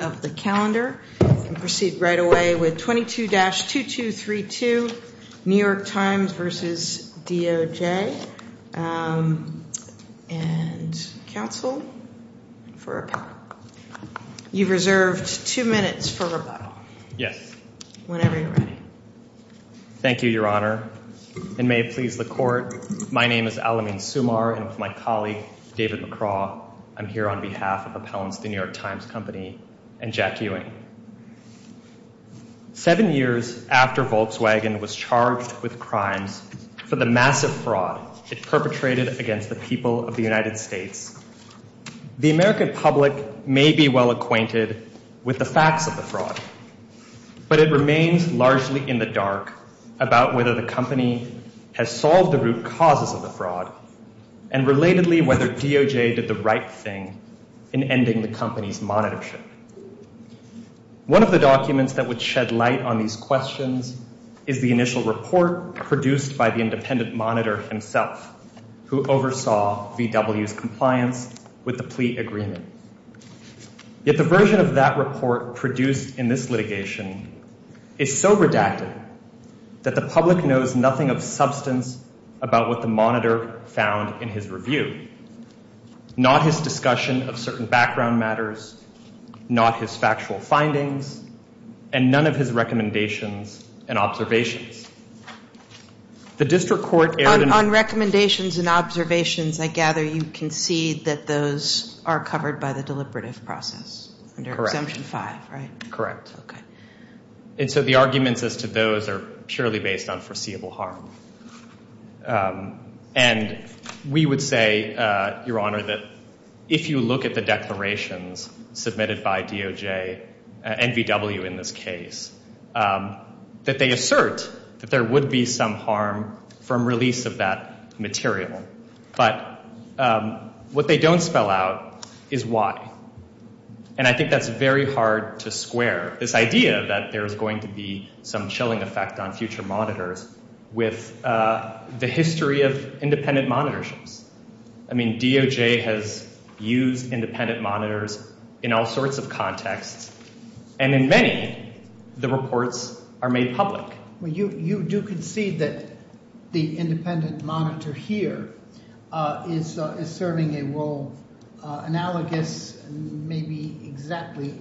of the calendar, and proceed right away with 22-2232, New York Times v. DOJ. And counsel for appellant. You've reserved two minutes for rebuttal. Yes. Whenever you're ready. Thank you, Your Honor. And may it please the Court, my name is Alamin Sumar, and with my and Jack Ewing. Seven years after Volkswagen was charged with crimes for the massive fraud it perpetrated against the people of the United States, the American public may be well acquainted with the facts of the fraud. But it remains largely in the dark about whether the company has solved the root causes of the fraud, and relatedly whether DOJ did the right thing in ending the company's monitorship. One of the documents that would shed light on these questions is the initial report produced by the independent monitor himself, who oversaw VW's compliance with the plea agreement. Yet the version of that report produced in this litigation is so redacted that the public knows nothing of substance about what the background matters, not his factual findings, and none of his recommendations and observations. The district court. On recommendations and observations, I gather you concede that those are covered by the deliberative process. Correct. Under exemption 5, right? Correct. And so the arguments as to those are purely based on foreseeable harm. And we would say, Your Honor, if you look at the declarations submitted by DOJ and VW in this case, that they assert that there would be some harm from release of that material. But what they don't spell out is why. And I think that's very hard to square this idea that there is going to be some chilling effect on future monitors with the history of independent monitorships. I mean, DOJs use independent monitors in all sorts of contexts. And in many, the reports are made public. You do concede that the independent monitor here is serving a role analogous, maybe exactly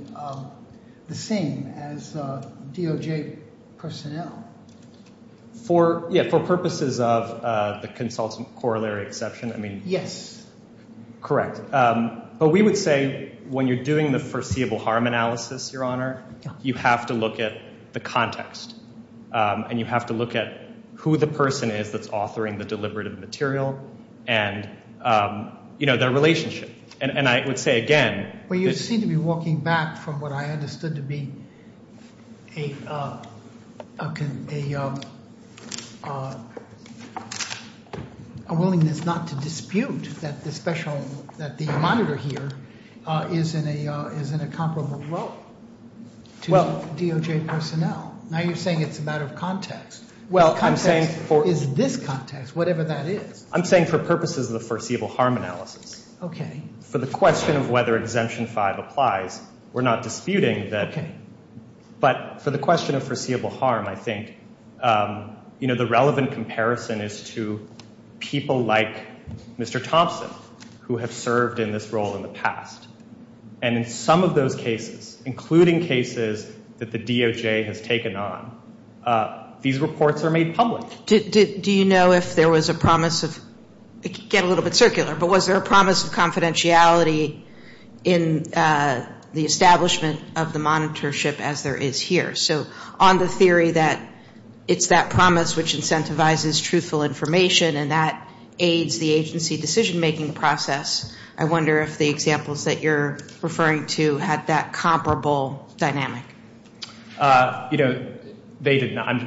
the same as DOJ personnel. For purposes of the consultant corollary exception, I mean. Yes. Correct. But we would say when you're doing the foreseeable harm analysis, Your Honor, you have to look at the context. And you have to look at who the person is that's authoring the deliberative material and, you know, their relationship. And I would say again. Well, you seem to be walking back from what I understood to be a willingness not to dispute that the monitor here is in a comparable role to DOJ personnel. Now you're saying it's a matter of context. The context is this context, whatever that is. I'm saying for purposes of the foreseeable harm analysis, for the question of whether Exemption 5 applies, we're not disputing that. But for the question of foreseeable harm, I think, you know, the Thompson who have served in this role in the past. And in some of those cases, including cases that the DOJ has taken on, these reports are made public. Do you know if there was a promise of, get a little bit circular, but was there a promise of confidentiality in the establishment of the monitorship as there is here? So on the theory that it's that promise which incentivizes truthful information and that aids the agency decision-making process, I wonder if the examples that you're referring to had that comparable dynamic. You know, they did not.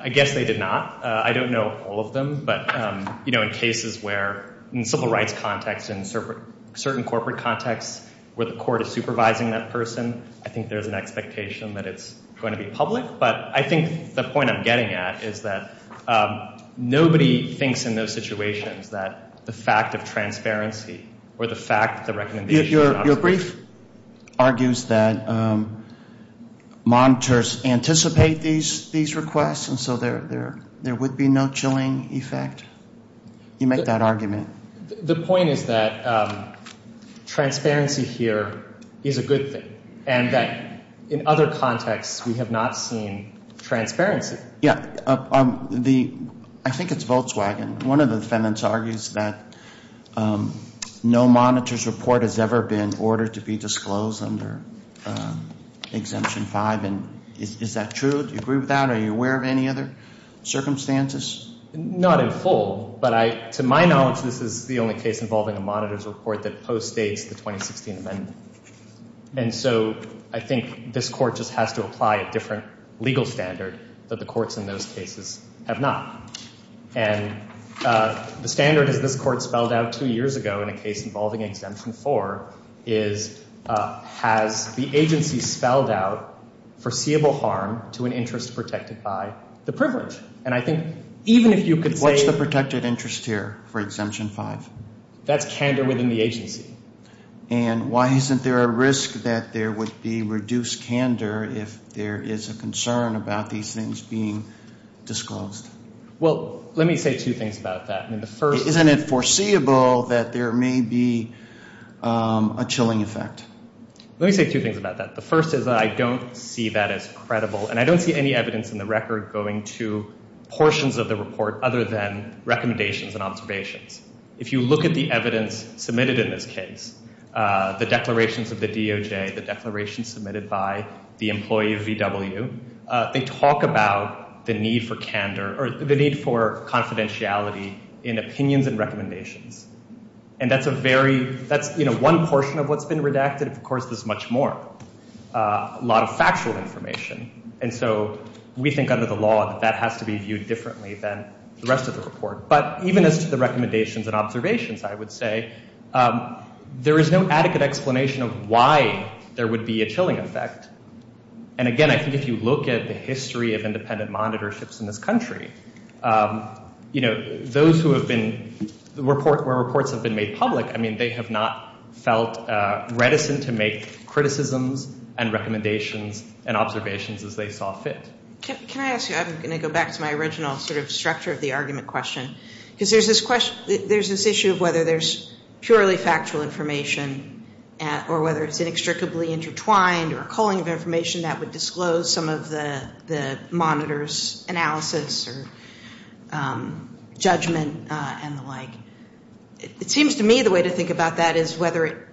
I guess they did not. I don't know all of them. But, you know, in cases where in civil rights context and certain corporate contexts where the court is supervising that person, I think there's an expectation that it's going to be public. But I think the point I'm getting at is that nobody thinks in those situations that the fact of transparency or the fact that the recommendation is not true. Your brief argues that monitors anticipate these requests, and so there would be no chilling effect? You make that argument. The point is that transparency here is a good thing. And that in other contexts, we have not seen transparency. Yeah. I think it's Volkswagen. One of the defendants argues that no monitors report has ever been ordered to be disclosed under Exemption 5. And is that true? Do you agree with that? Are you aware of any other circumstances? Not in full. But to my knowledge, this is the only case involving a monitors report that postdates the 2016 amendment. And so I think this court just has to apply a different legal standard that the courts in those cases have not. And the standard as this court spelled out two years ago in a case involving Exemption 4 is has the agency spelled out foreseeable harm to an interest protected by the privilege? And I think even if you could say What's the protected interest here for Exemption 5? That's candor within the agency. And why isn't there a risk that there would be reduced candor if there is a concern about these things being disclosed? Well, let me say two things about that. Isn't it foreseeable that there may be a chilling effect? Let me say two things about that. The first is I don't see that as credible. And I don't see any evidence in the record going to portions of the report other than recommendations and observations. If you look at the evidence submitted in this case, the declarations of the DOJ, the declaration submitted by the employee of VW, they talk about the need for candor or the need for confidentiality in opinions and recommendations. And that's a very, that's, you know, one portion of what's been redacted. Of course, there's much more, a lot of factual information. And so we think under the law that that has to be viewed differently than the rest of the report. But even as to the recommendations and observations, I would say there is no adequate explanation of why there would be a chilling effect. And again, I think if you look at the history of independent monitorships in this country, you know, those who have been, where reports have been made public, I mean, they have not felt reticent to make criticisms and recommendations and observations as they saw fit. Can I ask you, I'm going to go back to my original sort of structure of the argument question. Because there's this question, there's this issue of whether there's purely factual information or whether it's inextricably intertwined or a culling of information that would disclose some of the monitors analysis or judgment and the like. It seems to me the way to think about that is whether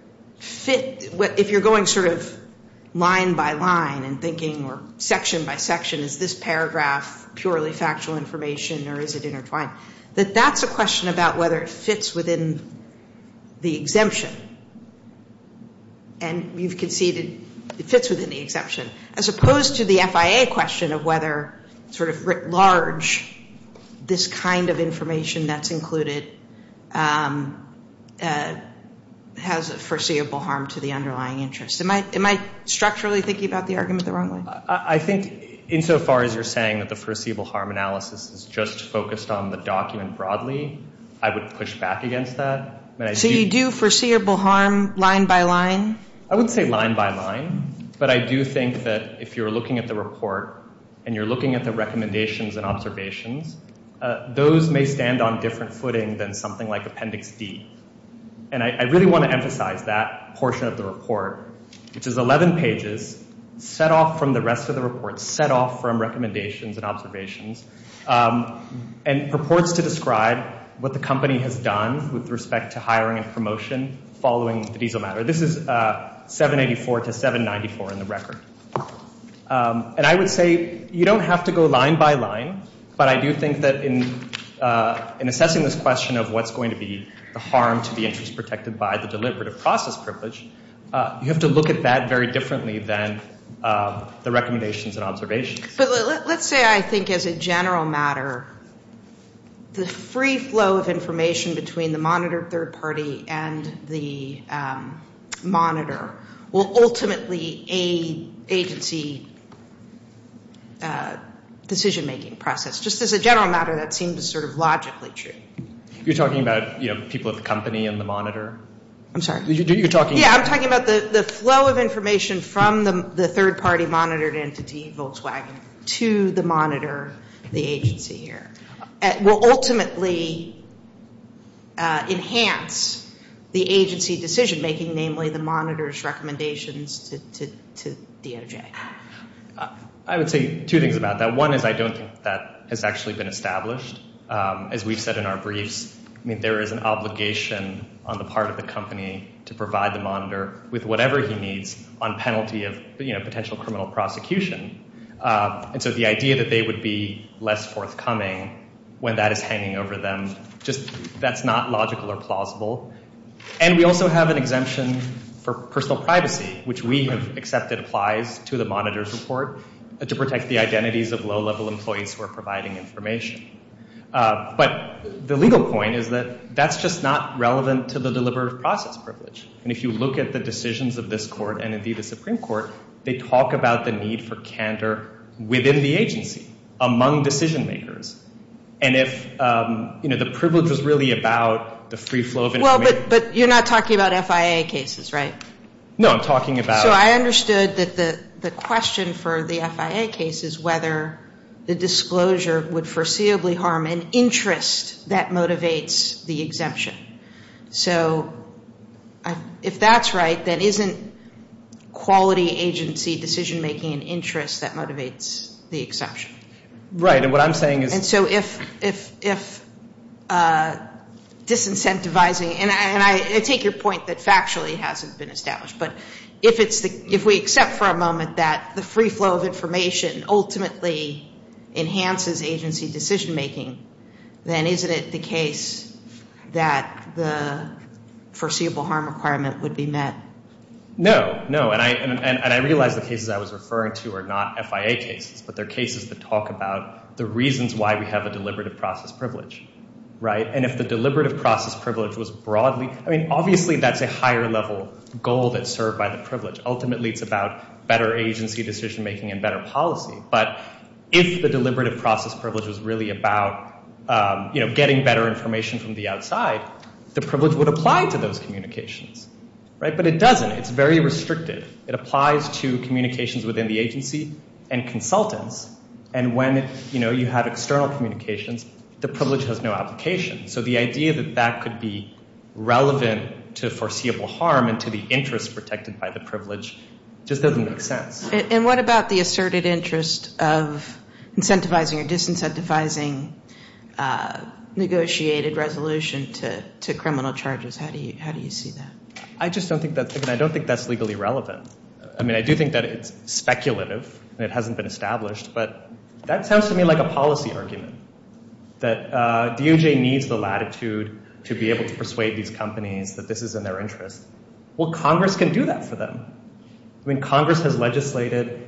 it you're going sort of line by line and thinking or section by section, is this paragraph purely factual information or is it intertwined? That that's a question about whether it fits within the exemption. And you've conceded it fits within the exemption. As opposed to the FIA question of whether sort of writ large, this kind of information that's included has a foreseeable harm to the underlying interest. Am I structurally thinking about the argument the wrong way? I think insofar as you're saying that the foreseeable harm analysis is just focused on the document broadly, I would push back against that. So you do foreseeable harm line by line? I would say line by line. But I do think that if you're looking at the report and you're looking at the recommendations and observations, those may stand on different footing than something like Appendix D. And I really want to emphasize that portion of the report, which is 11 pages, set off from the rest of the report, set off from recommendations and observations, and purports to describe what the company has done with respect to hiring and promotion following the diesel matter. This is 784 to 794 in the record. And I would say you don't have to go line by line, but I do think that in assessing this question of what's harmed to the interest protected by the deliberative process privilege, you have to look at that very differently than the recommendations and observations. But let's say, I think, as a general matter, the free flow of information between the monitored third party and the monitor will ultimately aid agency decision-making process. Just as a general matter, that seems sort of logically true. You're talking about people at the company and the monitor? I'm sorry? Yeah, I'm talking about the flow of information from the third party monitored entity, Volkswagen, to the monitor, the agency here, will ultimately enhance the agency decision-making, namely the monitor's recommendations to DOJ. I would say two things about that. One is I don't think that has actually been established. As we've said in our briefs, there is an obligation on the part of the company to provide the monitor with whatever he needs on penalty of potential criminal prosecution. And so the idea that they would be less forthcoming when that is hanging over them, that's not logical or plausible. And we also have an exemption for personal privacy, which we have accepted applies to the monitor's report to protect the identities of low-level employees who are providing information. But the legal point is that that's just not relevant to the deliberative process privilege. And if you look at the decisions of this court and, indeed, the Supreme Court, they talk about the need for candor within the agency, among decision-makers. And if the privilege is really about the free flow of information... Well, but you're not talking about FIA cases, right? No, I'm talking about... So I understood that the question for the FIA case is whether the disclosure would foreseeably harm an interest that motivates the exemption. So if that's right, then isn't quality agency decision-making an interest that motivates the exemption? Right. And what I'm saying is... And so if disincentivizing... And I take your point that factually it hasn't been established. But if we accept for a moment that the free flow of information ultimately enhances agency decision-making, then isn't it the case that the foreseeable harm requirement would be met? No, no. And I realize the cases I was referring to are not FIA cases, but they're cases that talk about the reasons why we have a deliberative process privilege. Right? And if the deliberative process privilege was broadly... Ultimately, it's about better agency decision-making and better policy. But if the deliberative process privilege was really about getting better information from the outside, the privilege would apply to those communications. But it doesn't. It's very restrictive. It applies to communications within the agency and consultants. And when you have external communications, the privilege has no application. So the idea that that could be relevant to foreseeable harm and to the interest protected by the privilege just doesn't make sense. And what about the asserted interest of incentivizing or disincentivizing negotiated resolution to criminal charges? How do you see that? I just don't think that's... I don't think that's legally relevant. I mean, I do think that it's speculative and it hasn't been established. But that sounds to me like a policy argument, that DOJ needs the latitude to be able to persuade these companies that this is in their interest. Well, Congress can do that for them. I mean, Congress has legislated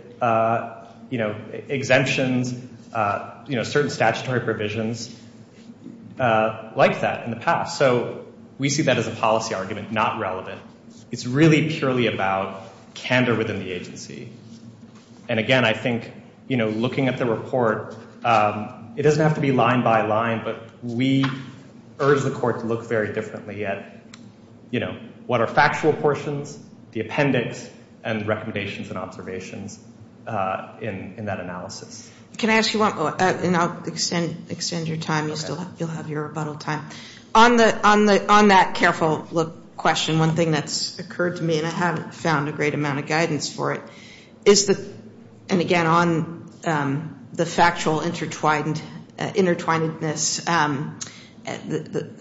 exemptions, certain statutory provisions like that in the past. So we see that as a policy argument, not relevant. It's really purely about candor within the agency. And again, I think, you know, looking at the report, it doesn't have to be line by line, but we urge the court to look very differently at, you know, what are factual portions, the appendix, and the recommendations and observations in that analysis. Can I ask you one more? And I'll extend your time. You'll have your rebuttal time. On that careful look question, one thing that's occurred to me, and I haven't found a great amount of guidance for it, is that, and again, on the factual intertwinedness,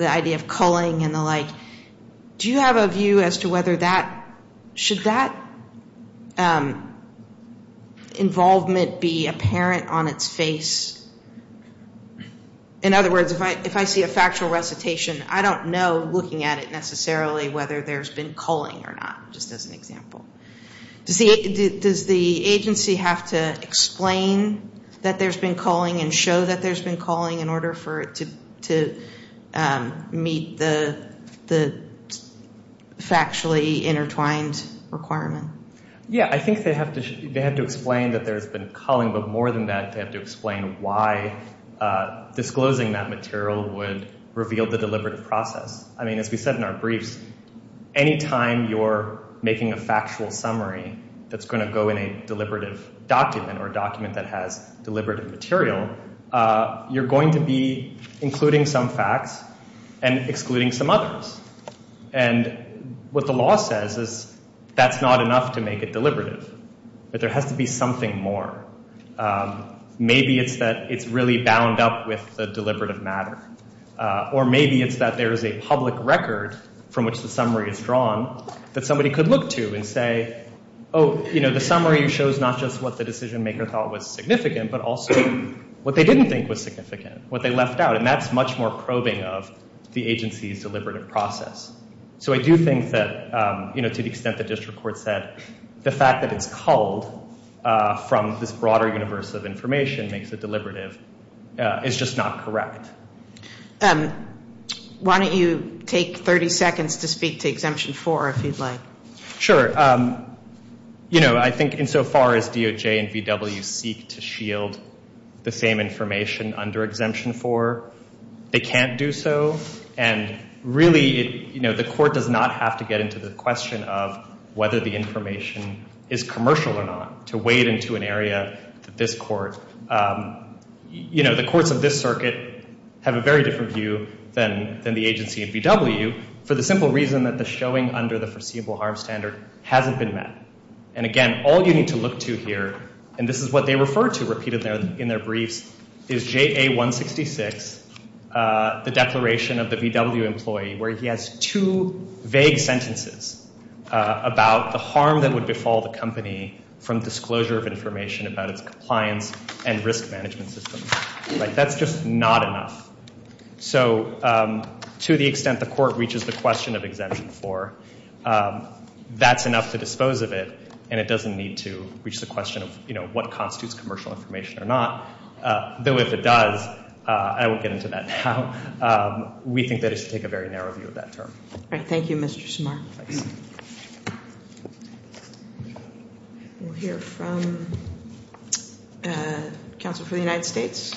the idea of culling and the like, do you have a view as to whether that, should that involvement be apparent on its face? In other words, if I see a factual recitation, I don't know, looking at it necessarily, whether there's been culling or not, just as an example. Does the agency have to explain that there's been culling and show that there's been culling in order for it to meet the factually intertwined requirement? Yeah, I think they have to explain that there's been culling, but more than that, they have to explain why disclosing that material would reveal the deliberative process. I mean, as we said in our briefs, any time you're making a factual summary that's going to go in a deliberative document or document that has deliberative material, you're going to be including some facts and excluding some others. And what the law says is that's not enough to make it deliberative, that there has to be something more. Maybe it's that it's really bound up with the deliberative matter, or maybe it's that there is a public record from which the summary is drawn that somebody could look to and say, oh, you know, the summary shows not just what the decision maker thought was significant, but also what they didn't think was significant, what they left out. And that's much more probing of the agency's deliberative process. So I do think that, you know, to the extent the district court said, the fact that it's culled from this broader universe of information makes it deliberative is just not correct. Why don't you take 30 seconds to speak to Exemption 4, if you'd like. Sure. You know, I think insofar as DOJ and VW seek to shield the same information under Exemption 4, they can't do so. And really, you know, the court does not have to get into the question of whether the information is commercial or not to wade into an area that this court, you know, the courts of this circuit have a very different view than the agency and VW for the simple reason that the showing under the foreseeable harm standard hasn't been met. And again, all you need to look to here, and this is what they refer to repeatedly in their briefs, is JA-166, the declaration of the VW employee, where he has two vague sentences about the harm that would befall the company from disclosure of information about its compliance and risk management system. Like, that's just not enough. So to the extent the court reaches the question of Exemption 4, that's enough to dispose of it, and it doesn't need to reach the question of, you know, what constitutes commercial information or not. Though if it does, I won't get into that now, we think that it should take a very narrow view of that term. All right. Thank you, Mr. Samar. We'll hear from counsel for the United States.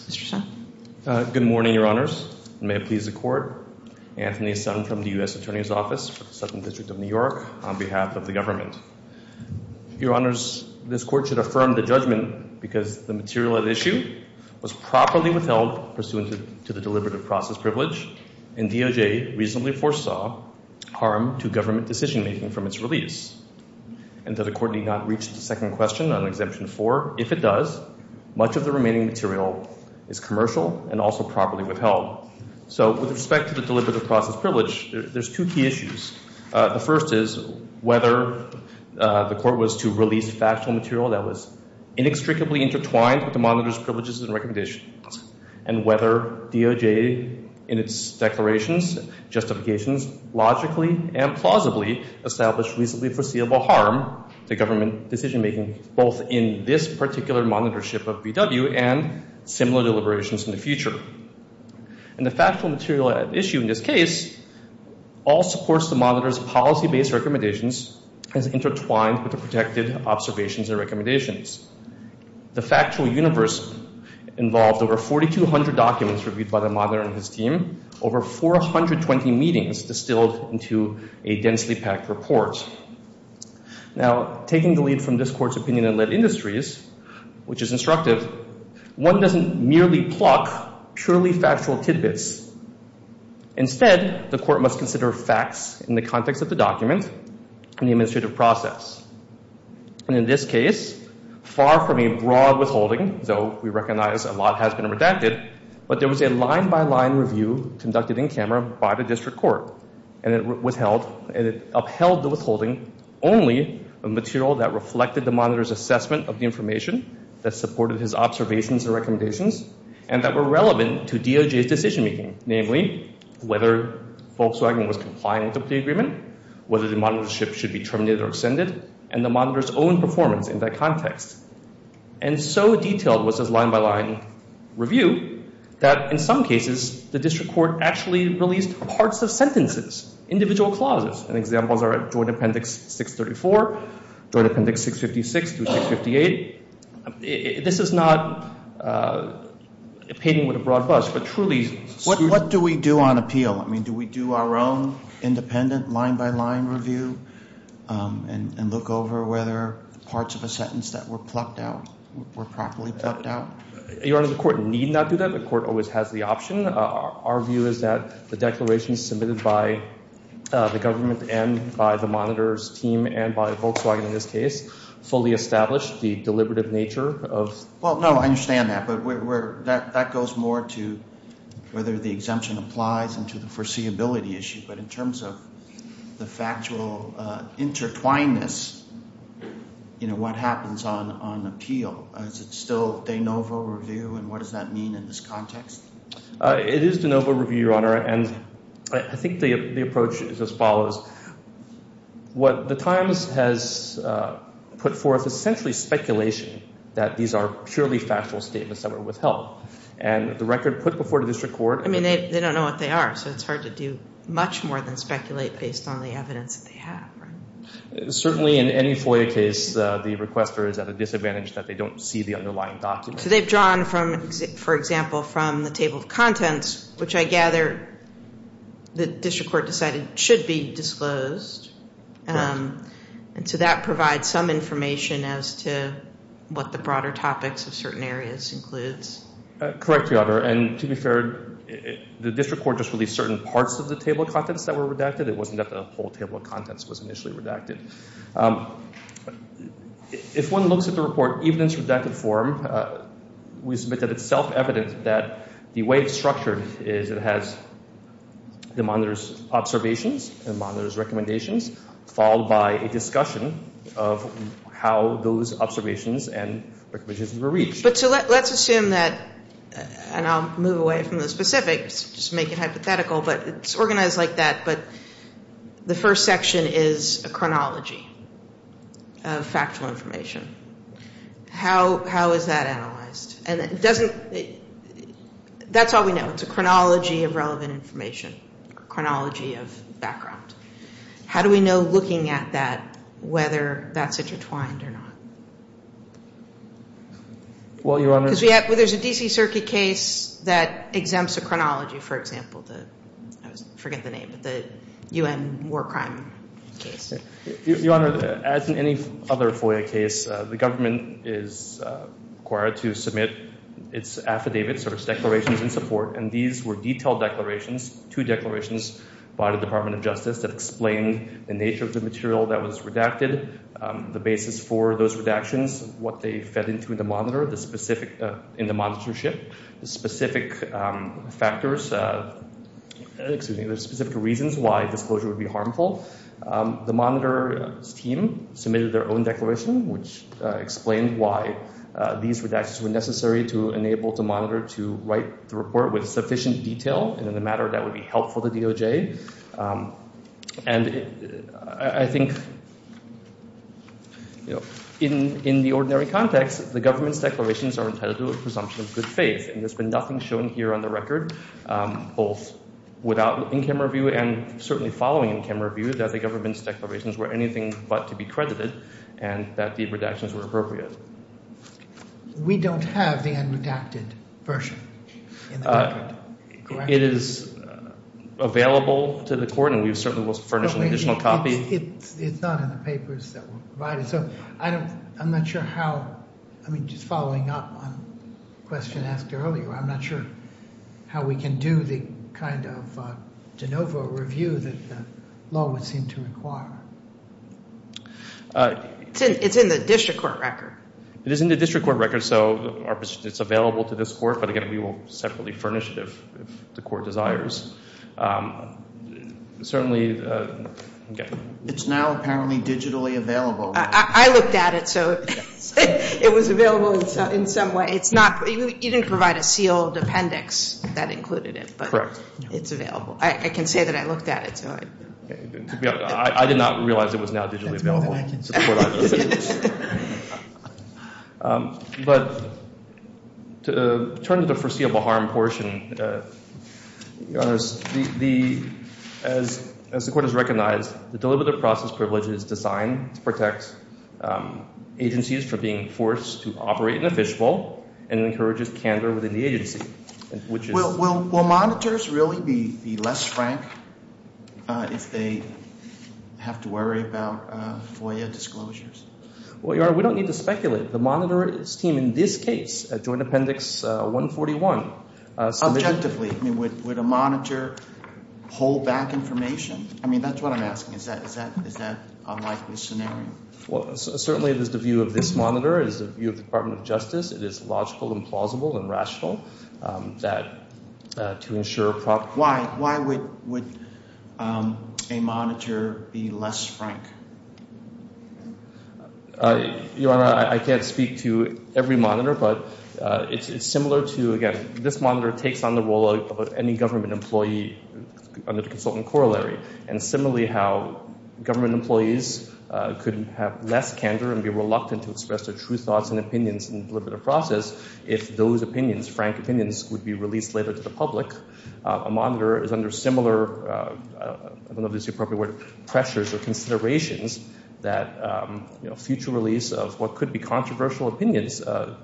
Mr. Sun. Good morning, Your Honors. And may it please the Court, Anthony Sun from the U.S. Attorney's Office for the Southern District of New York on behalf of the government. Your Honors, this Court should affirm the judgment because the material at issue was properly withheld pursuant to the deliberative process privilege, and DOJ reasonably foresaw harm to government decision-making from its release. And though the Court need not reach the second question on Exemption 4, if it does, much of the remaining material is commercial and also properly withheld. So with respect to the deliberative process privilege, there's two key issues. The first is whether the Court was to release factual material that was inextricably intertwined with the monitor's privileges and recommendations, and whether DOJ in its declarations, justifications, logically and plausibly established reasonably foreseeable harm to government decision-making both in this particular monitorship of VW and similar deliberations in the future. And the factual material at issue in this case all supports the monitor's policy-based recommendations as intertwined with the protected observations and recommendations. The factual universe involved over 4,200 documents reviewed by the monitor and his team, over 420 meetings distilled into a densely packed report. Now, taking the lead from this Court's opinion in Lead Industries, which is instructive, one doesn't merely pluck purely factual tidbits. Instead, the Court must consider facts in the context of the document and the administrative process. And in this case, far from a broad withholding, though we recognize a lot has been redacted, but there was a line-by-line review conducted in camera by the District Court, and it upheld the withholding only of material that reflected the monitor's assessment of the information that supported his observations and recommendations and that were relevant to DOJ's decision-making, namely, whether Volkswagen was compliant with the agreement, whether the monitorship should be terminated or extended, and the monitor's own performance in that context. And so detailed was this line-by-line review that, in some cases, the District Court actually released parts of sentences, individual clauses. And examples are at Joint Appendix 634, Joint Appendix 656 through 658. This is not a painting with a broad brush, but truly— What do we do on appeal? I mean, do we do our own independent line-by-line review and look over whether parts of a sentence that were plucked out were properly plucked out? Your Honor, the Court need not do that. The Court always has the option. Our view is that the declaration submitted by the government and by the monitor's team and by Volkswagen in this case fully established the deliberative nature of— Well, no, I understand that, but that goes more to whether the exemption applies and to the foreseeability issue. But in terms of the factual intertwinedness, what happens on appeal? Is it still de novo review, and what does that mean in this context? It is de novo review, Your Honor, and I think the approach is as follows. What the Times has put forth is essentially speculation that these are purely factual statements that were withheld. And the record put before the District Court— I mean, they don't know what they are, so it's hard to do much more than speculate based on the evidence that they have. Certainly in any FOIA case, the requester is at a disadvantage that they don't see the underlying document. So they've drawn, for example, from the table of contents, which I gather the District Court decided should be disclosed. Correct. And so that provides some information as to what the broader topics of certain areas includes. Correct, Your Honor, and to be fair, the District Court just released certain parts of the table of contents that were redacted. It wasn't that the whole table of contents was initially redacted. If one looks at the report, even in its redacted form, we submit that it's self-evident that the way it's structured is it has the monitor's observations, the monitor's recommendations, followed by a discussion of how those observations and recommendations were reached. But let's assume that, and I'll move away from the specifics, just make it hypothetical, but it's organized like that, but the first section is a chronology of factual information. How is that analyzed? That's all we know. It's a chronology of relevant information, a chronology of background. How do we know, looking at that, whether that's intertwined or not? Well, Your Honor— Because there's a D.C. Circuit case that exempts a chronology, for example. I forget the name, but the U.N. war crime case. Your Honor, as in any other FOIA case, the government is required to submit its affidavits or its declarations in support, and these were detailed declarations, two declarations by the Department of Justice that explained the nature of the material that was redacted, the basis for those redactions, what they fed into the monitor in the monitorship, the specific factors—excuse me, the specific reasons why disclosure would be harmful. The monitor's team submitted their own declaration, which explained why these redactions were necessary to enable the monitor to write the report with sufficient detail in a matter that would be helpful to DOJ. And I think in the ordinary context, the government's declarations are entitled to a presumption of good faith, and there's been nothing shown here on the record, both without in-camera view and certainly following in-camera view, that the government's declarations were anything but to be credited and that the redactions were appropriate. We don't have the unredacted version in the record, correct? It is available to the court, and we certainly will furnish an additional copy. It's not in the papers that were provided. So I'm not sure how—I mean, just following up on a question asked earlier, I'm not sure how we can do the kind of de novo review that the law would seem to require. It's in the district court record. It is in the district court record, so it's available to this court, but again, we will separately furnish it if the court desires. Certainly, okay. It's now apparently digitally available. I looked at it, so it was available in some way. It's not—you didn't provide a sealed appendix that included it, but it's available. I can say that I looked at it. I did not realize it was now digitally available. That's more than I can say. But to turn to the foreseeable harm portion, Your Honors, as the court has recognized, the deliberative process privilege is designed to protect agencies from being forced to operate in a fishbowl and encourages candor within the agency, which is— Will monitors really be less frank if they have to worry about FOIA disclosures? Well, Your Honor, we don't need to speculate. The monitor's team in this case, Joint Appendix 141— Subjectively. I mean, would a monitor hold back information? I mean, that's what I'm asking. Is that a likely scenario? Well, certainly it is the view of this monitor. It is the view of the Department of Justice. It is logical and plausible and rational that to ensure proper— Why would a monitor be less frank? Your Honor, I can't speak to every monitor, but it's similar to, again, this monitor takes on the role of any government employee under the consultant corollary and similarly how government employees could have less candor and be reluctant to express their true thoughts and opinions in the deliberative process if those opinions, frank opinions, would be released later to the public. A monitor is under similar—I don't know if this is the appropriate word—pressures or considerations that future release of what could be controversial opinions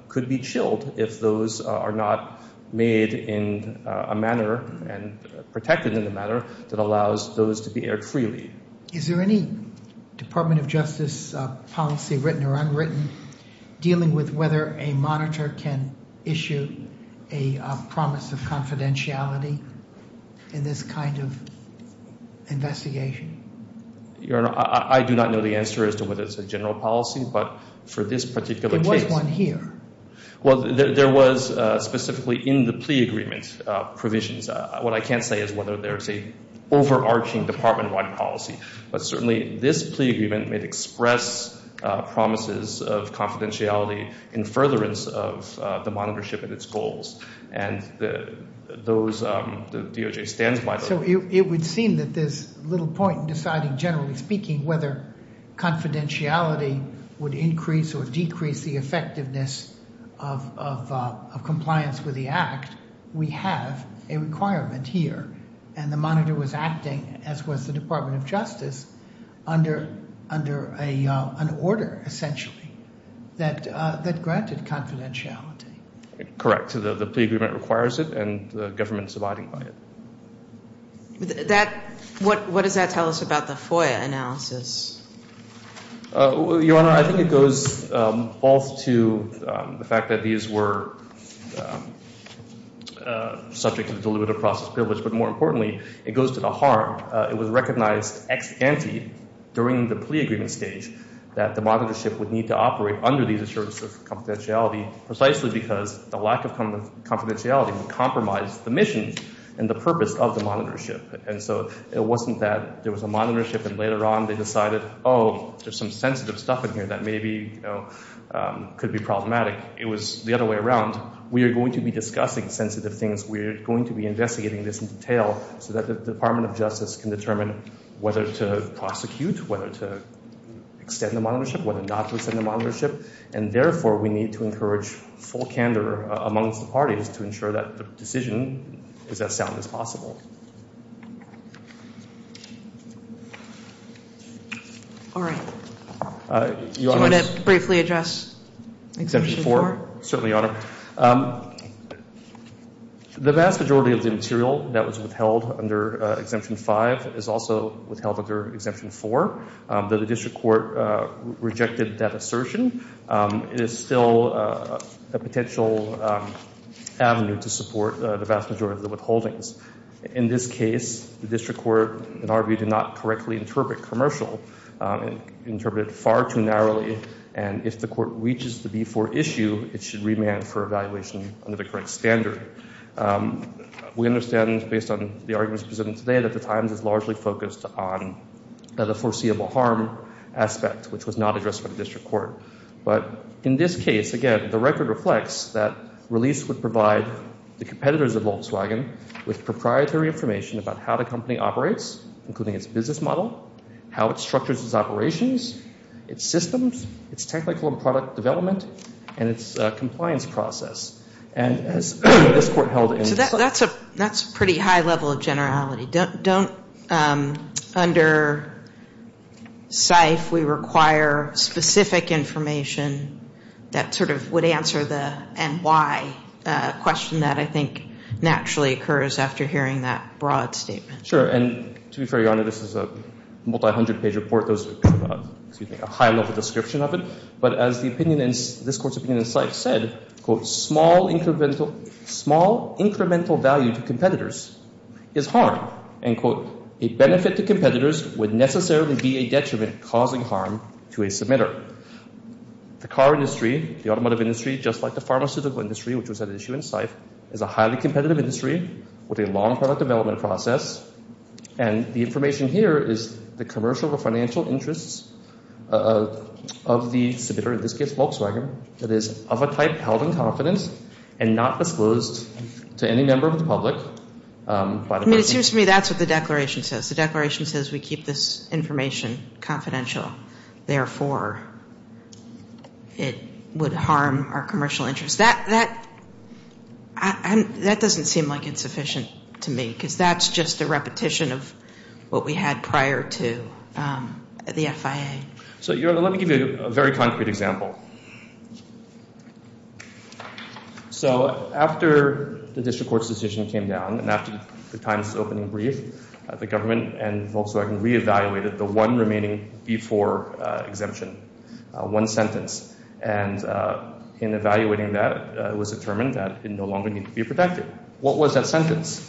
could be chilled if those are not made in a manner and protected in a manner that allows those to be aired freely. Is there any Department of Justice policy, written or unwritten, dealing with whether a monitor can issue a promise of confidentiality in this kind of investigation? Your Honor, I do not know the answer as to whether it's a general policy, but for this particular case— There was one here. Well, there was specifically in the plea agreement provisions. What I can't say is whether there's an overarching department-wide policy, but certainly this plea agreement may express promises of confidentiality in furtherance of the monitorship and its goals, and the DOJ stands by those. So it would seem that there's little point in deciding, generally speaking, whether confidentiality would increase or decrease the effectiveness of compliance with the Act. We have a requirement here, and the monitor was acting, as was the Department of Justice, under an order, essentially, that granted confidentiality. Correct. The plea agreement requires it, and the government is abiding by it. What does that tell us about the FOIA analysis? Your Honor, I think it goes both to the fact that these were subject to the deliberative process privilege, but more importantly, it goes to the harm. It was recognized ex-ante during the plea agreement stage that the monitorship would need to operate under these assurances of confidentiality precisely because the lack of confidentiality would compromise the mission and the purpose of the monitorship. And so it wasn't that there was a monitorship and later on they decided, oh, there's some sensitive stuff in here that maybe could be problematic. It was the other way around. We are going to be discussing sensitive things. We are going to be investigating this in detail so that the Department of Justice can determine whether to prosecute, whether to extend the monitorship, whether not to extend the monitorship, and therefore we need to encourage full candor amongst the parties to ensure that the decision is as sound as possible. All right. Do you want to briefly address Exemption 4? Certainly, Your Honor. The vast majority of the material that was withheld under Exemption 5 is also withheld under Exemption 4. Though the district court rejected that assertion, it is still a potential avenue to support the vast majority of the withholdings. In this case, the district court, in our view, did not correctly interpret commercial. It interpreted it far too narrowly, and if the court reaches the B4 issue, it should remand for evaluation under the current standard. We understand, based on the arguments presented today, that the Times is largely focused on the foreseeable harm aspect, which was not addressed by the district court. But in this case, again, the record reflects that release would provide the competitors of Volkswagen with proprietary information about how the company operates, including its business model, how it structures its operations, its systems, its technical and product development, and its compliance process. So that's a pretty high level of generality. Don't, under SIFE, we require specific information that sort of would answer the and why question that I think naturally occurs after hearing that broad statement. Sure. And to be fair, Your Honor, this is a multi-hundred-page report. There's a high-level description of it. But as the opinion in this court's opinion in SIFE said, quote, small incremental value to competitors is harm. End quote. A benefit to competitors would necessarily be a detriment causing harm to a submitter. The car industry, the automotive industry, just like the pharmaceutical industry, which was an issue in SIFE, is a highly competitive industry with a long product development process. And the information here is the commercial or financial interests of the submitter, in this case Volkswagen, that is of a type held in confidence and not disclosed to any member of the public. It seems to me that's what the declaration says. The declaration says we keep this information confidential. Therefore, it would harm our commercial interests. That doesn't seem like it's sufficient to me because that's just a repetition of what we had prior to the FIA. So, Your Honor, let me give you a very concrete example. So after the district court's decision came down and after the time's opening brief, the government and Volkswagen re-evaluated the one remaining B-4 exemption, one sentence. And in evaluating that, it was determined that it no longer needed to be protected. What was that sentence?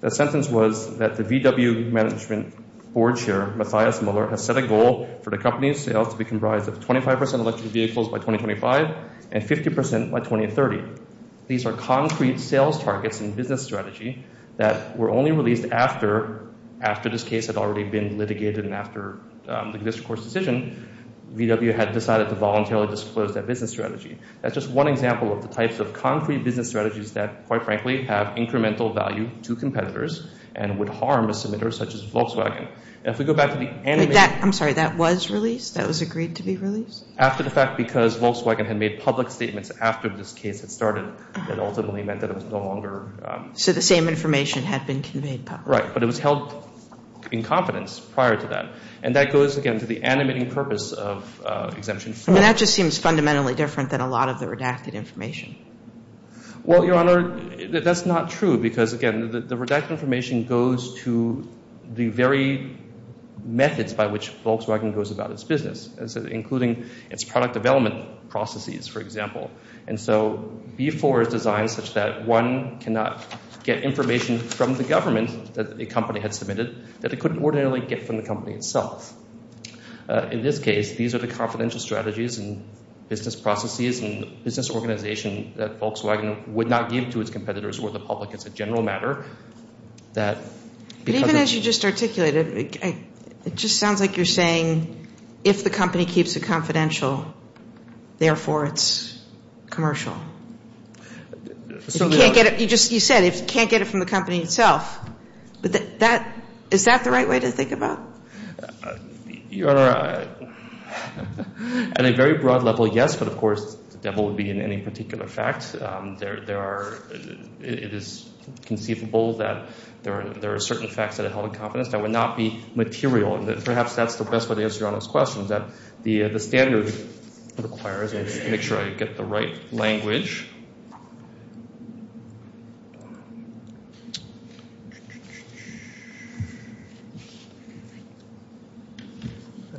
That sentence was that the VW management board chair, Matthias Muller, has set a goal for the company's sales to be comprised of 25% electric vehicles by 2025 and 50% by 2030. These are concrete sales targets and business strategy that were only released after this case had already been litigated and after the district court's decision, VW had decided to voluntarily disclose that business strategy. That's just one example of the types of concrete business strategies that, quite frankly, have incremental value to competitors and would harm a submitter such as Volkswagen. And if we go back to the animated... I'm sorry, that was released? That was agreed to be released? After the fact, because Volkswagen had made public statements after this case had started that ultimately meant that it was no longer... So the same information had been conveyed publicly. Right, but it was held in confidence prior to that. And that goes, again, to the animating purpose of Exemption 4. That just seems fundamentally different than a lot of the redacted information. Well, Your Honor, that's not true because, again, the redacted information goes to the very methods by which Volkswagen goes about its business, including its product development processes, for example. And so B4 is designed such that one cannot get information from the government that a company had submitted that it couldn't ordinarily get from the company itself. In this case, these are the confidential strategies and business processes and business organization that Volkswagen would not give to its competitors or the public. It's a general matter that... But even as you just articulated, it just sounds like you're saying if the company keeps a confidential, therefore it's commercial. You said if you can't get it from the company itself. Is that the right way to think about it? Your Honor, at a very broad level, yes. But, of course, the devil would be in any particular fact. It is conceivable that there are certain facts that are held in confidence that would not be material. And perhaps that's the best way to answer Your Honor's question, The standard requires... Let me make sure I get the right language. I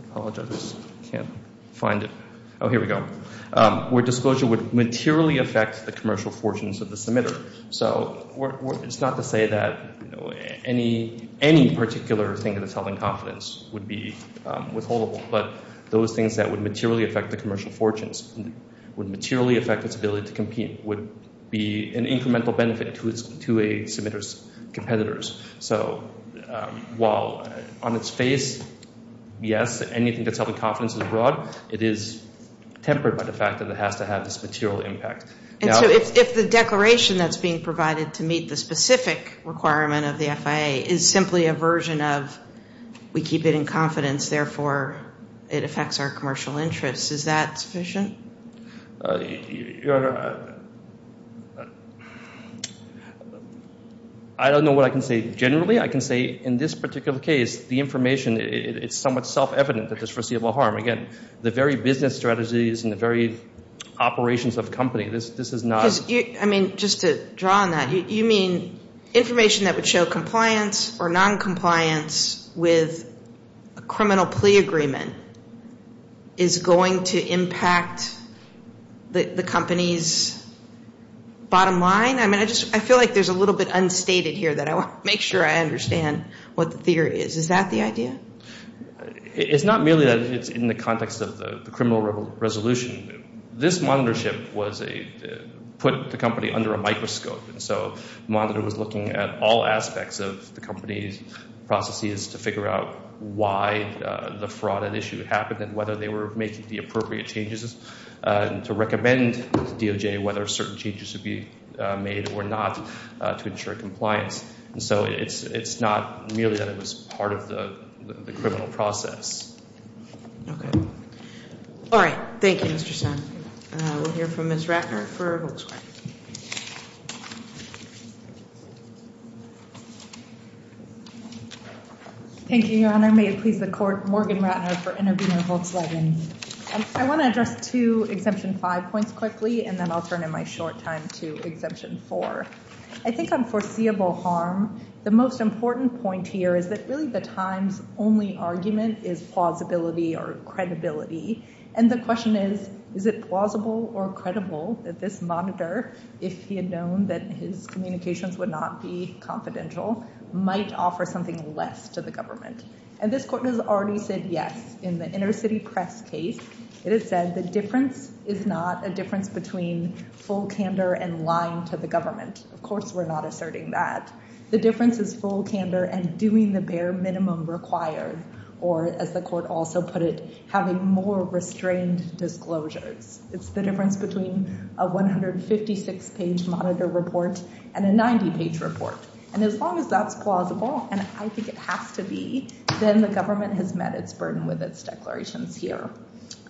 apologize. I can't find it. Oh, here we go. Where disclosure would materially affect the commercial fortunes of the submitter. So it's not to say that any particular thing that's held in confidence would be withholdable. But those things that would materially affect the commercial fortunes, would materially affect its ability to compete, would be an incremental benefit to a submitter's competitors. So while on its face, yes, anything that's held in confidence is broad, it is tempered by the fact that it has to have this material impact. And so if the declaration that's being provided to meet the specific requirement of the FIA is simply a version of we keep it in confidence, therefore it affects our commercial interests, is that sufficient? Your Honor, I don't know what I can say generally. I can say in this particular case, the information, it's somewhat self-evident that there's foreseeable harm. Again, the very business strategies and the very operations of the company, this is not... I mean, just to draw on that, Your Honor, you mean information that would show compliance or noncompliance with a criminal plea agreement is going to impact the company's bottom line? I mean, I feel like there's a little bit unstated here that I want to make sure I understand what the theory is. Is that the idea? It's not merely that it's in the context of the criminal resolution. This monitorship put the company under a microscope, and so the monitor was looking at all aspects of the company's processes to figure out why the fraud at issue happened and whether they were making the appropriate changes to recommend to DOJ whether certain changes should be made or not to ensure compliance. And so it's not merely that it was part of the criminal process. Okay. All right. Thank you, Mr. Senn. We'll hear from Ms. Ratner for Volkswagen. Thank you, Your Honor. May it please the Court, Morgan Ratner for Intervenor Volkswagen. I want to address two Exemption 5 points quickly, and then I'll turn in my short time to Exemption 4. I think on foreseeable harm, the most important point here is that really the Times' only argument is plausibility or credibility, and the question is, is it plausible or credible that this monitor, if he had known that his communications would not be confidential, might offer something less to the government? And this Court has already said yes. In the inner-city press case, it has said the difference is not a difference between full candor and lying to the government. Of course we're not asserting that. The difference is full candor and doing the bare minimum required, or as the Court also put it, having more restrained disclosures. It's the difference between a 156-page monitor report and a 90-page report. And as long as that's plausible, and I think it has to be, then the government has met its burden with its declarations here.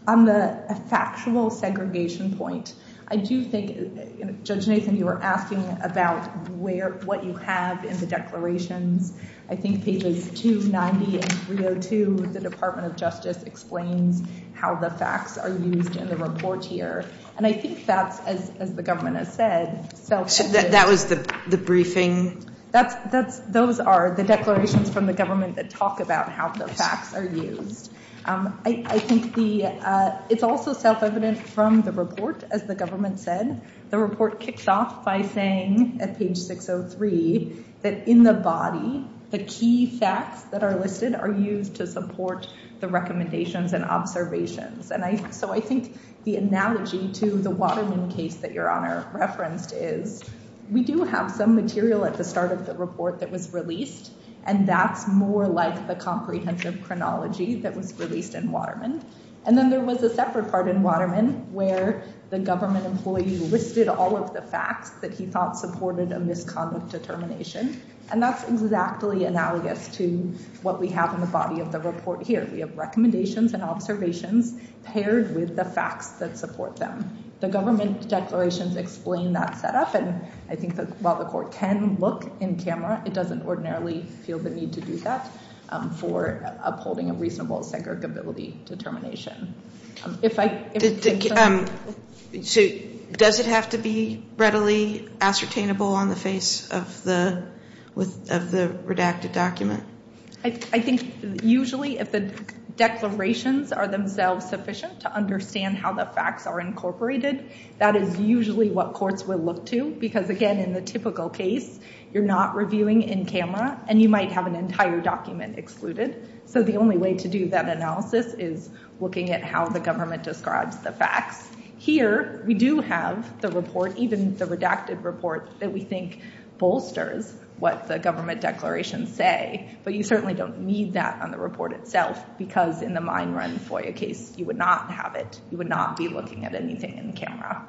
On the factual segregation point, I do think, Judge Nathan, you were asking about what you have in the declarations. I think pages 290 and 302, the Department of Justice explains how the facts are used in the report here. And I think that's, as the government has said, self-evident. So that was the briefing? Those are the declarations from the government that talk about how the facts are used. I think it's also self-evident from the report, as the government said. The report kicks off by saying, at page 603, that in the body, the key facts that are listed are used to support the recommendations and observations. So I think the analogy to the Waterman case that Your Honor referenced is we do have some material at the start of the report that was released, and that's more like the comprehensive chronology that was released in Waterman. And then there was a separate part in Waterman where the government employee listed all of the facts that he thought supported a misconduct determination. And that's exactly analogous to what we have in the body of the report here. We have recommendations and observations paired with the facts that support them. The government declarations explain that setup, and I think that while the court can look in camera, it doesn't ordinarily feel the need to do that for upholding a reasonable segregability determination. So does it have to be readily ascertainable on the face of the redacted document? I think usually if the declarations are themselves sufficient to understand how the facts are incorporated, that is usually what courts will look to. Because, again, in the typical case, you're not reviewing in camera, and you might have an entire document excluded. So the only way to do that analysis is looking at how the government describes the facts. Here, we do have the report, even the redacted report, that we think bolsters what the government declarations say. But you certainly don't need that on the report itself because in the mine run FOIA case, you would not have it. You would not be looking at anything in camera.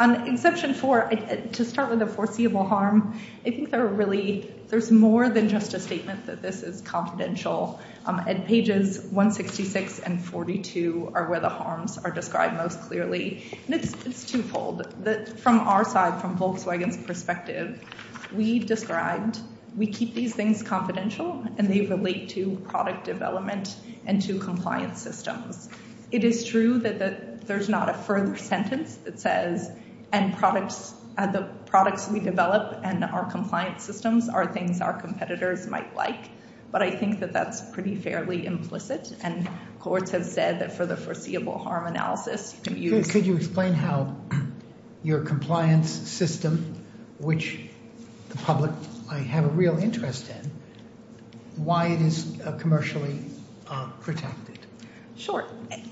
On Exception 4, to start with the foreseeable harm, I think there's more than just a statement that this is confidential. And pages 166 and 42 are where the harms are described most clearly. And it's twofold. From our side, from Volkswagen's perspective, we described, we keep these things confidential, and they relate to product development and to compliance systems. It is true that there's not a further sentence that says, and the products we develop and our compliance systems are things our competitors might like. But I think that that's pretty fairly implicit, and courts have said that for the foreseeable harm analysis, you can use- Could you explain how your compliance system, which the public might have a real interest in, why it is commercially protected? Sure.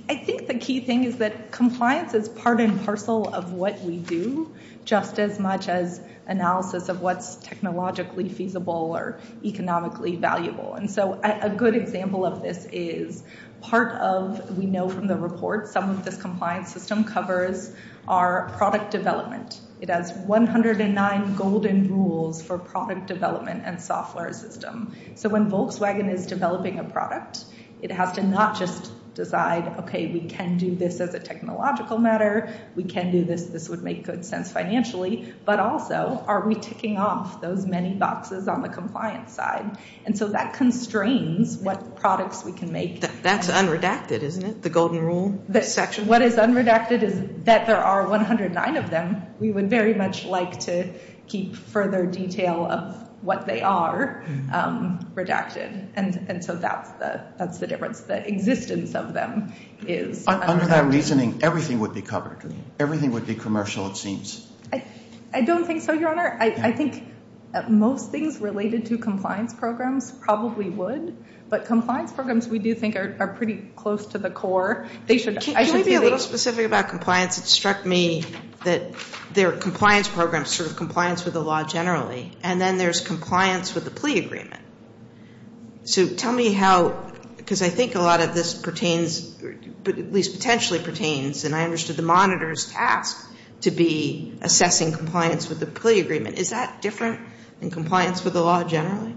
I think the key thing is that compliance is part and parcel of what we do, just as much as analysis of what's technologically feasible or economically valuable. And so a good example of this is part of, we know from the report, some of this compliance system covers our product development. It has 109 golden rules for product development and software system. So when Volkswagen is developing a product, it has to not just decide, okay, we can do this as a technological matter, we can do this, this would make good sense financially, but also, are we ticking off those many boxes on the compliance side? And so that constrains what products we can make. That's unredacted, isn't it, the golden rule section? What is unredacted is that there are 109 of them. We would very much like to keep further detail of what they are redacted. And so that's the difference, the existence of them is unredacted. Under that reasoning, everything would be covered. Everything would be commercial, it seems. I don't think so, Your Honor. I think most things related to compliance programs probably would, but compliance programs we do think are pretty close to the core. Can we be a little specific about compliance? It struck me that there are compliance programs, sort of compliance with the law generally, and then there's compliance with the plea agreement. So tell me how, because I think a lot of this pertains, at least potentially pertains, and I understood the monitor's task to be assessing compliance with the plea agreement. Is that different than compliance with the law generally?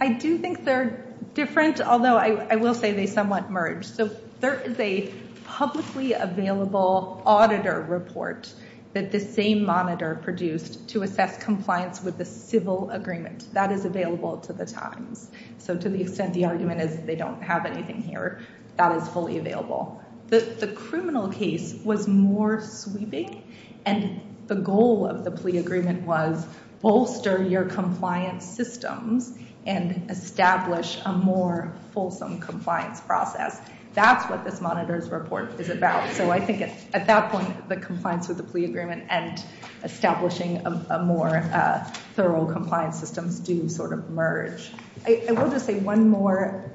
I do think they're different, although I will say they somewhat merge. So there is a publicly available auditor report that the same monitor produced to assess compliance with the civil agreement. That is available to the times. So to the extent the argument is they don't have anything here, that is fully available. The criminal case was more sweeping, and the goal of the plea agreement was bolster your compliance systems and establish a more fulsome compliance process. That's what this monitor's report is about. So I think at that point the compliance with the plea agreement and establishing a more thorough compliance system do sort of merge. I will just say one more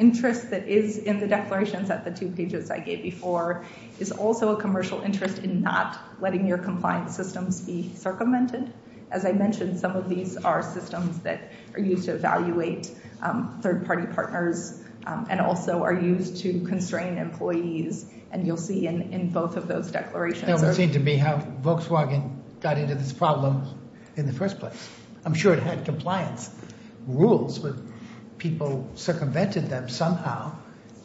interest that is in the declarations at the two pages I gave before is also a commercial interest in not letting your compliance systems be circumvented. As I mentioned, some of these are systems that are used to evaluate third-party partners and also are used to constrain employees, and you'll see in both of those declarations. That would seem to me how Volkswagen got into this problem in the first place. I'm sure it had compliance rules, but people circumvented them somehow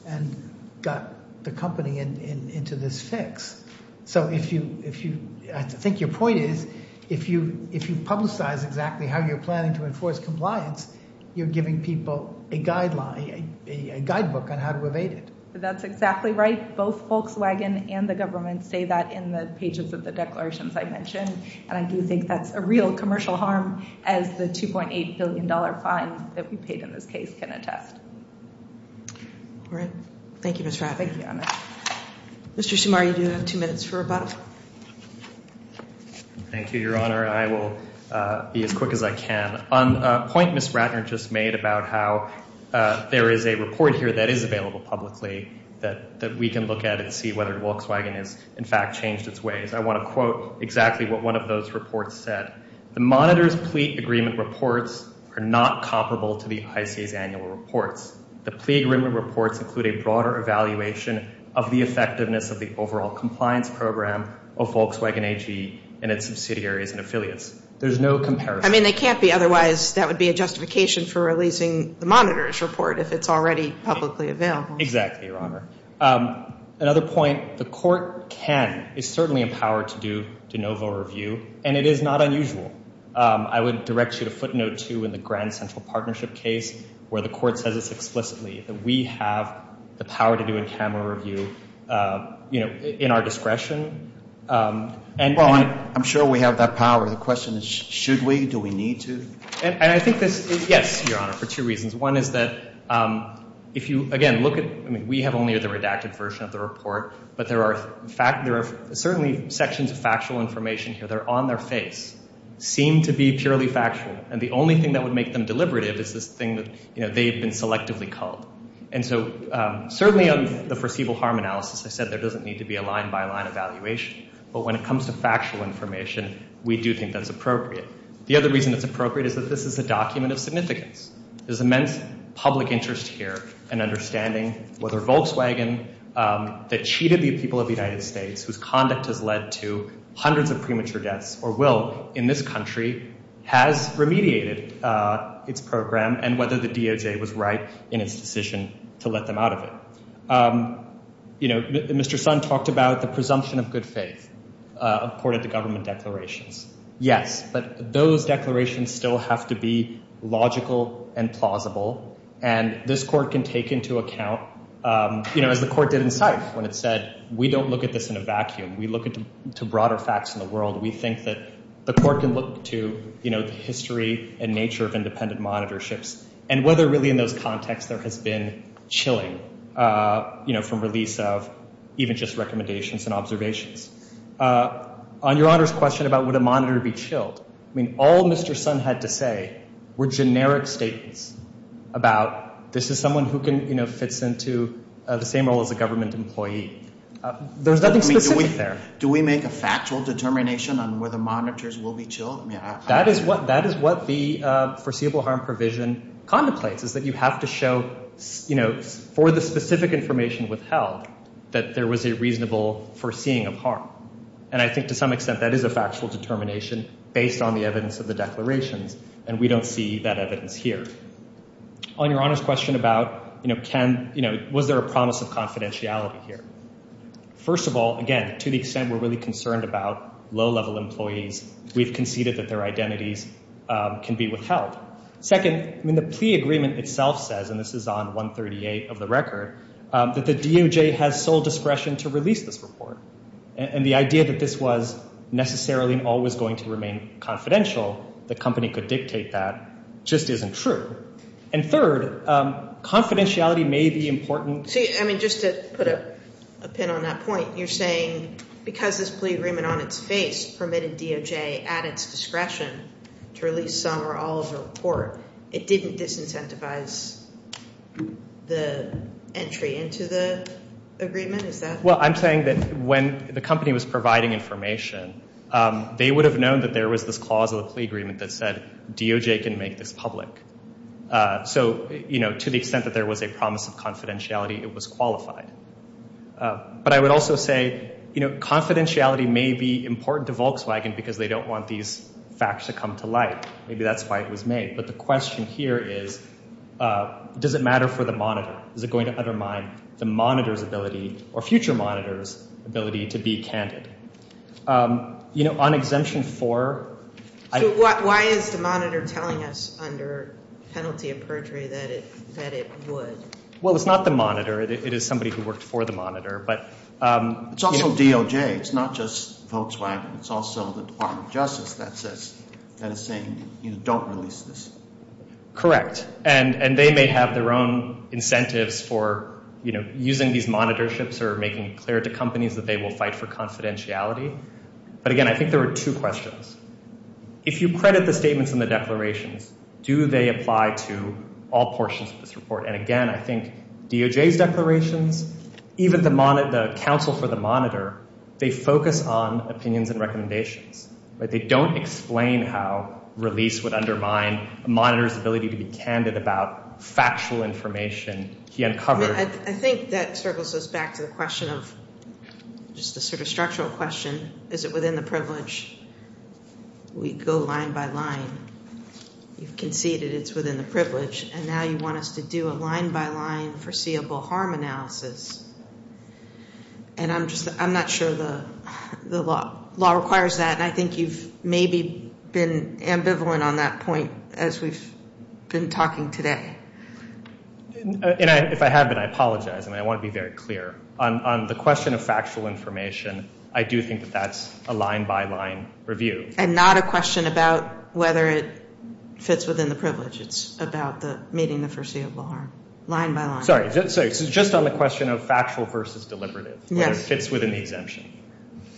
and got the company into this fix. So I think your point is if you publicize exactly how you're planning to enforce compliance, you're giving people a guidebook on how to evade it. That's exactly right. Both Volkswagen and the government say that in the pages of the declarations I mentioned, and I do think that's a real commercial harm as the $2.8 billion fine that we paid in this case can attest. All right. Thank you, Ms. Ratner. Thank you, Your Honor. Mr. Sumar, you do have two minutes for rebuttal. Thank you, Your Honor. I will be as quick as I can. On a point Ms. Ratner just made about how there is a report here that is available publicly that we can look at and see whether Volkswagen has, in fact, changed its ways, I want to quote exactly what one of those reports said. The monitor's plea agreement reports are not comparable to the ICA's annual reports. The plea agreement reports include a broader evaluation of the effectiveness of the overall compliance program of Volkswagen AG and its subsidiaries and affiliates. There's no comparison. I mean, they can't be otherwise. That would be a justification for releasing the monitor's report if it's already publicly available. Exactly, Your Honor. Another point, the court can, is certainly empowered to do de novo review, and it is not unusual. I would direct you to footnote two in the Grand Central Partnership case where the court says this explicitly, that we have the power to do a camera review, you know, in our discretion. Well, I'm sure we have that power. The question is, should we? Do we need to? And I think this is, yes, Your Honor, for two reasons. One is that if you, again, look at, I mean, we have only the redacted version of the report, but there are certainly sections of factual information here that are on their face, seem to be purely factual, and the only thing that would make them deliberative is this thing that, you know, they've been selectively called. And so certainly on the foreseeable harm analysis, I said there doesn't need to be a line-by-line evaluation, but when it comes to factual information, we do think that's appropriate. The other reason it's appropriate is that this is a document of significance. There's immense public interest here in understanding whether Volkswagen, that cheated the people of the United States, whose conduct has led to hundreds of premature deaths or will in this country, has remediated its program and whether the DOJ was right in its decision to let them out of it. You know, Mr. Sun talked about the presumption of good faith according to government declarations. Yes, but those declarations still have to be logical and plausible, and this court can take into account, you know, as the court did in SAIF when it said, we don't look at this in a vacuum. We look into broader facts in the world. We think that the court can look to, you know, the history and nature of independent monitorships and whether really in those contexts there has been chilling, you know, from release of even just recommendations and observations. On Your Honor's question about would a monitor be chilled, I mean all Mr. Sun had to say were generic statements about this is someone who can, you know, fits into the same role as a government employee. There's nothing specific there. Do we make a factual determination on whether monitors will be chilled? That is what the foreseeable harm provision contemplates is that you have to show, you know, for the specific information withheld that there was a reasonable foreseeing of harm, and I think to some extent that is a factual determination based on the evidence of the declarations, and we don't see that evidence here. On Your Honor's question about, you know, was there a promise of confidentiality here, first of all, again, to the extent we're really concerned about low-level employees, we've conceded that their identities can be withheld. Second, I mean the plea agreement itself says, and this is on 138 of the record, that the DOJ has sole discretion to release this report, and the idea that this was necessarily and always going to remain confidential, the company could dictate that, just isn't true. And third, confidentiality may be important. See, I mean just to put a pin on that point, you're saying because this plea agreement on its face permitted DOJ at its discretion to release some or all of the report, it didn't disincentivize the entry into the agreement, is that? Well, I'm saying that when the company was providing information, they would have known that there was this clause of the plea agreement that said, DOJ can make this public. So, you know, to the extent that there was a promise of confidentiality, it was qualified. But I would also say, you know, confidentiality may be important to Volkswagen because they don't want these facts to come to light. Maybe that's why it was made. But the question here is, does it matter for the monitor? Is it going to undermine the monitor's ability, or future monitor's ability to be candid? You know, on exemption four- So why is the monitor telling us under penalty of perjury that it would? Well, it's not the monitor. It is somebody who worked for the monitor, but- It's also DOJ. It's not just Volkswagen. It's also the Department of Justice that is saying, you know, don't release this. Correct. And they may have their own incentives for, you know, using these monitorships or making it clear to companies that they will fight for confidentiality. But, again, I think there are two questions. And, again, I think DOJ's declarations, even the counsel for the monitor, they focus on opinions and recommendations. They don't explain how release would undermine a monitor's ability to be candid about factual information. He uncovered- I think that circles us back to the question of just a sort of structural question. Is it within the privilege? We go line by line. You've conceded it's within the privilege. And now you want us to do a line by line foreseeable harm analysis. And I'm not sure the law requires that. And I think you've maybe been ambivalent on that point as we've been talking today. And if I have been, I apologize. And I want to be very clear. On the question of factual information, I do think that that's a line by line review. And not a question about whether it fits within the privilege. It's about meeting the foreseeable harm line by line. Sorry. Just on the question of factual versus deliberative, whether it fits within the exemption.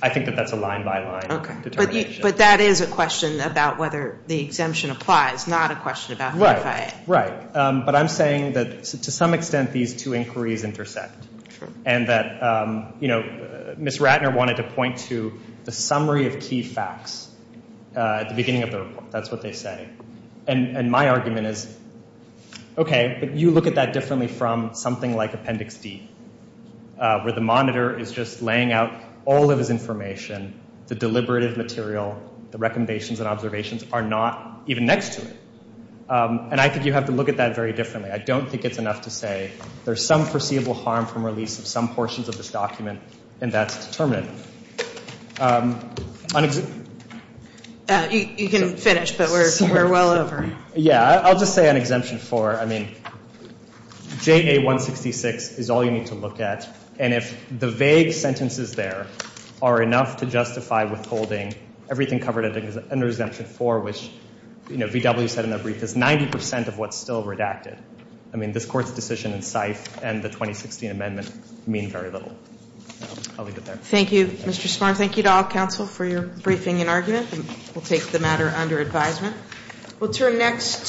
I think that that's a line by line determination. But that is a question about whether the exemption applies, not a question about- Right. Right. But I'm saying that to some extent these two inquiries intersect. And that, you know, Ms. Ratner wanted to point to the summary of key facts at the beginning of the report. That's what they say. And my argument is, okay, but you look at that differently from something like Appendix D, where the monitor is just laying out all of his information, the deliberative material, the recommendations and observations are not even next to it. And I think you have to look at that very differently. I don't think it's enough to say there's some foreseeable harm from release of some portions of this document, and that's determined. You can finish, but we're well over. Yeah. I'll just say on Exemption 4, I mean, JA-166 is all you need to look at. And if the vague sentences there are enough to justify withholding everything covered under Exemption 4, which, you know, V.W. said in a brief, is 90 percent of what's still redacted. I mean, this Court's decision in SIFE and the 2016 amendment mean very little. I'll leave it there. Thank you. Thank you, Mr. Smart. Thank you to all counsel for your briefing and argument. We'll take the matter under advisement.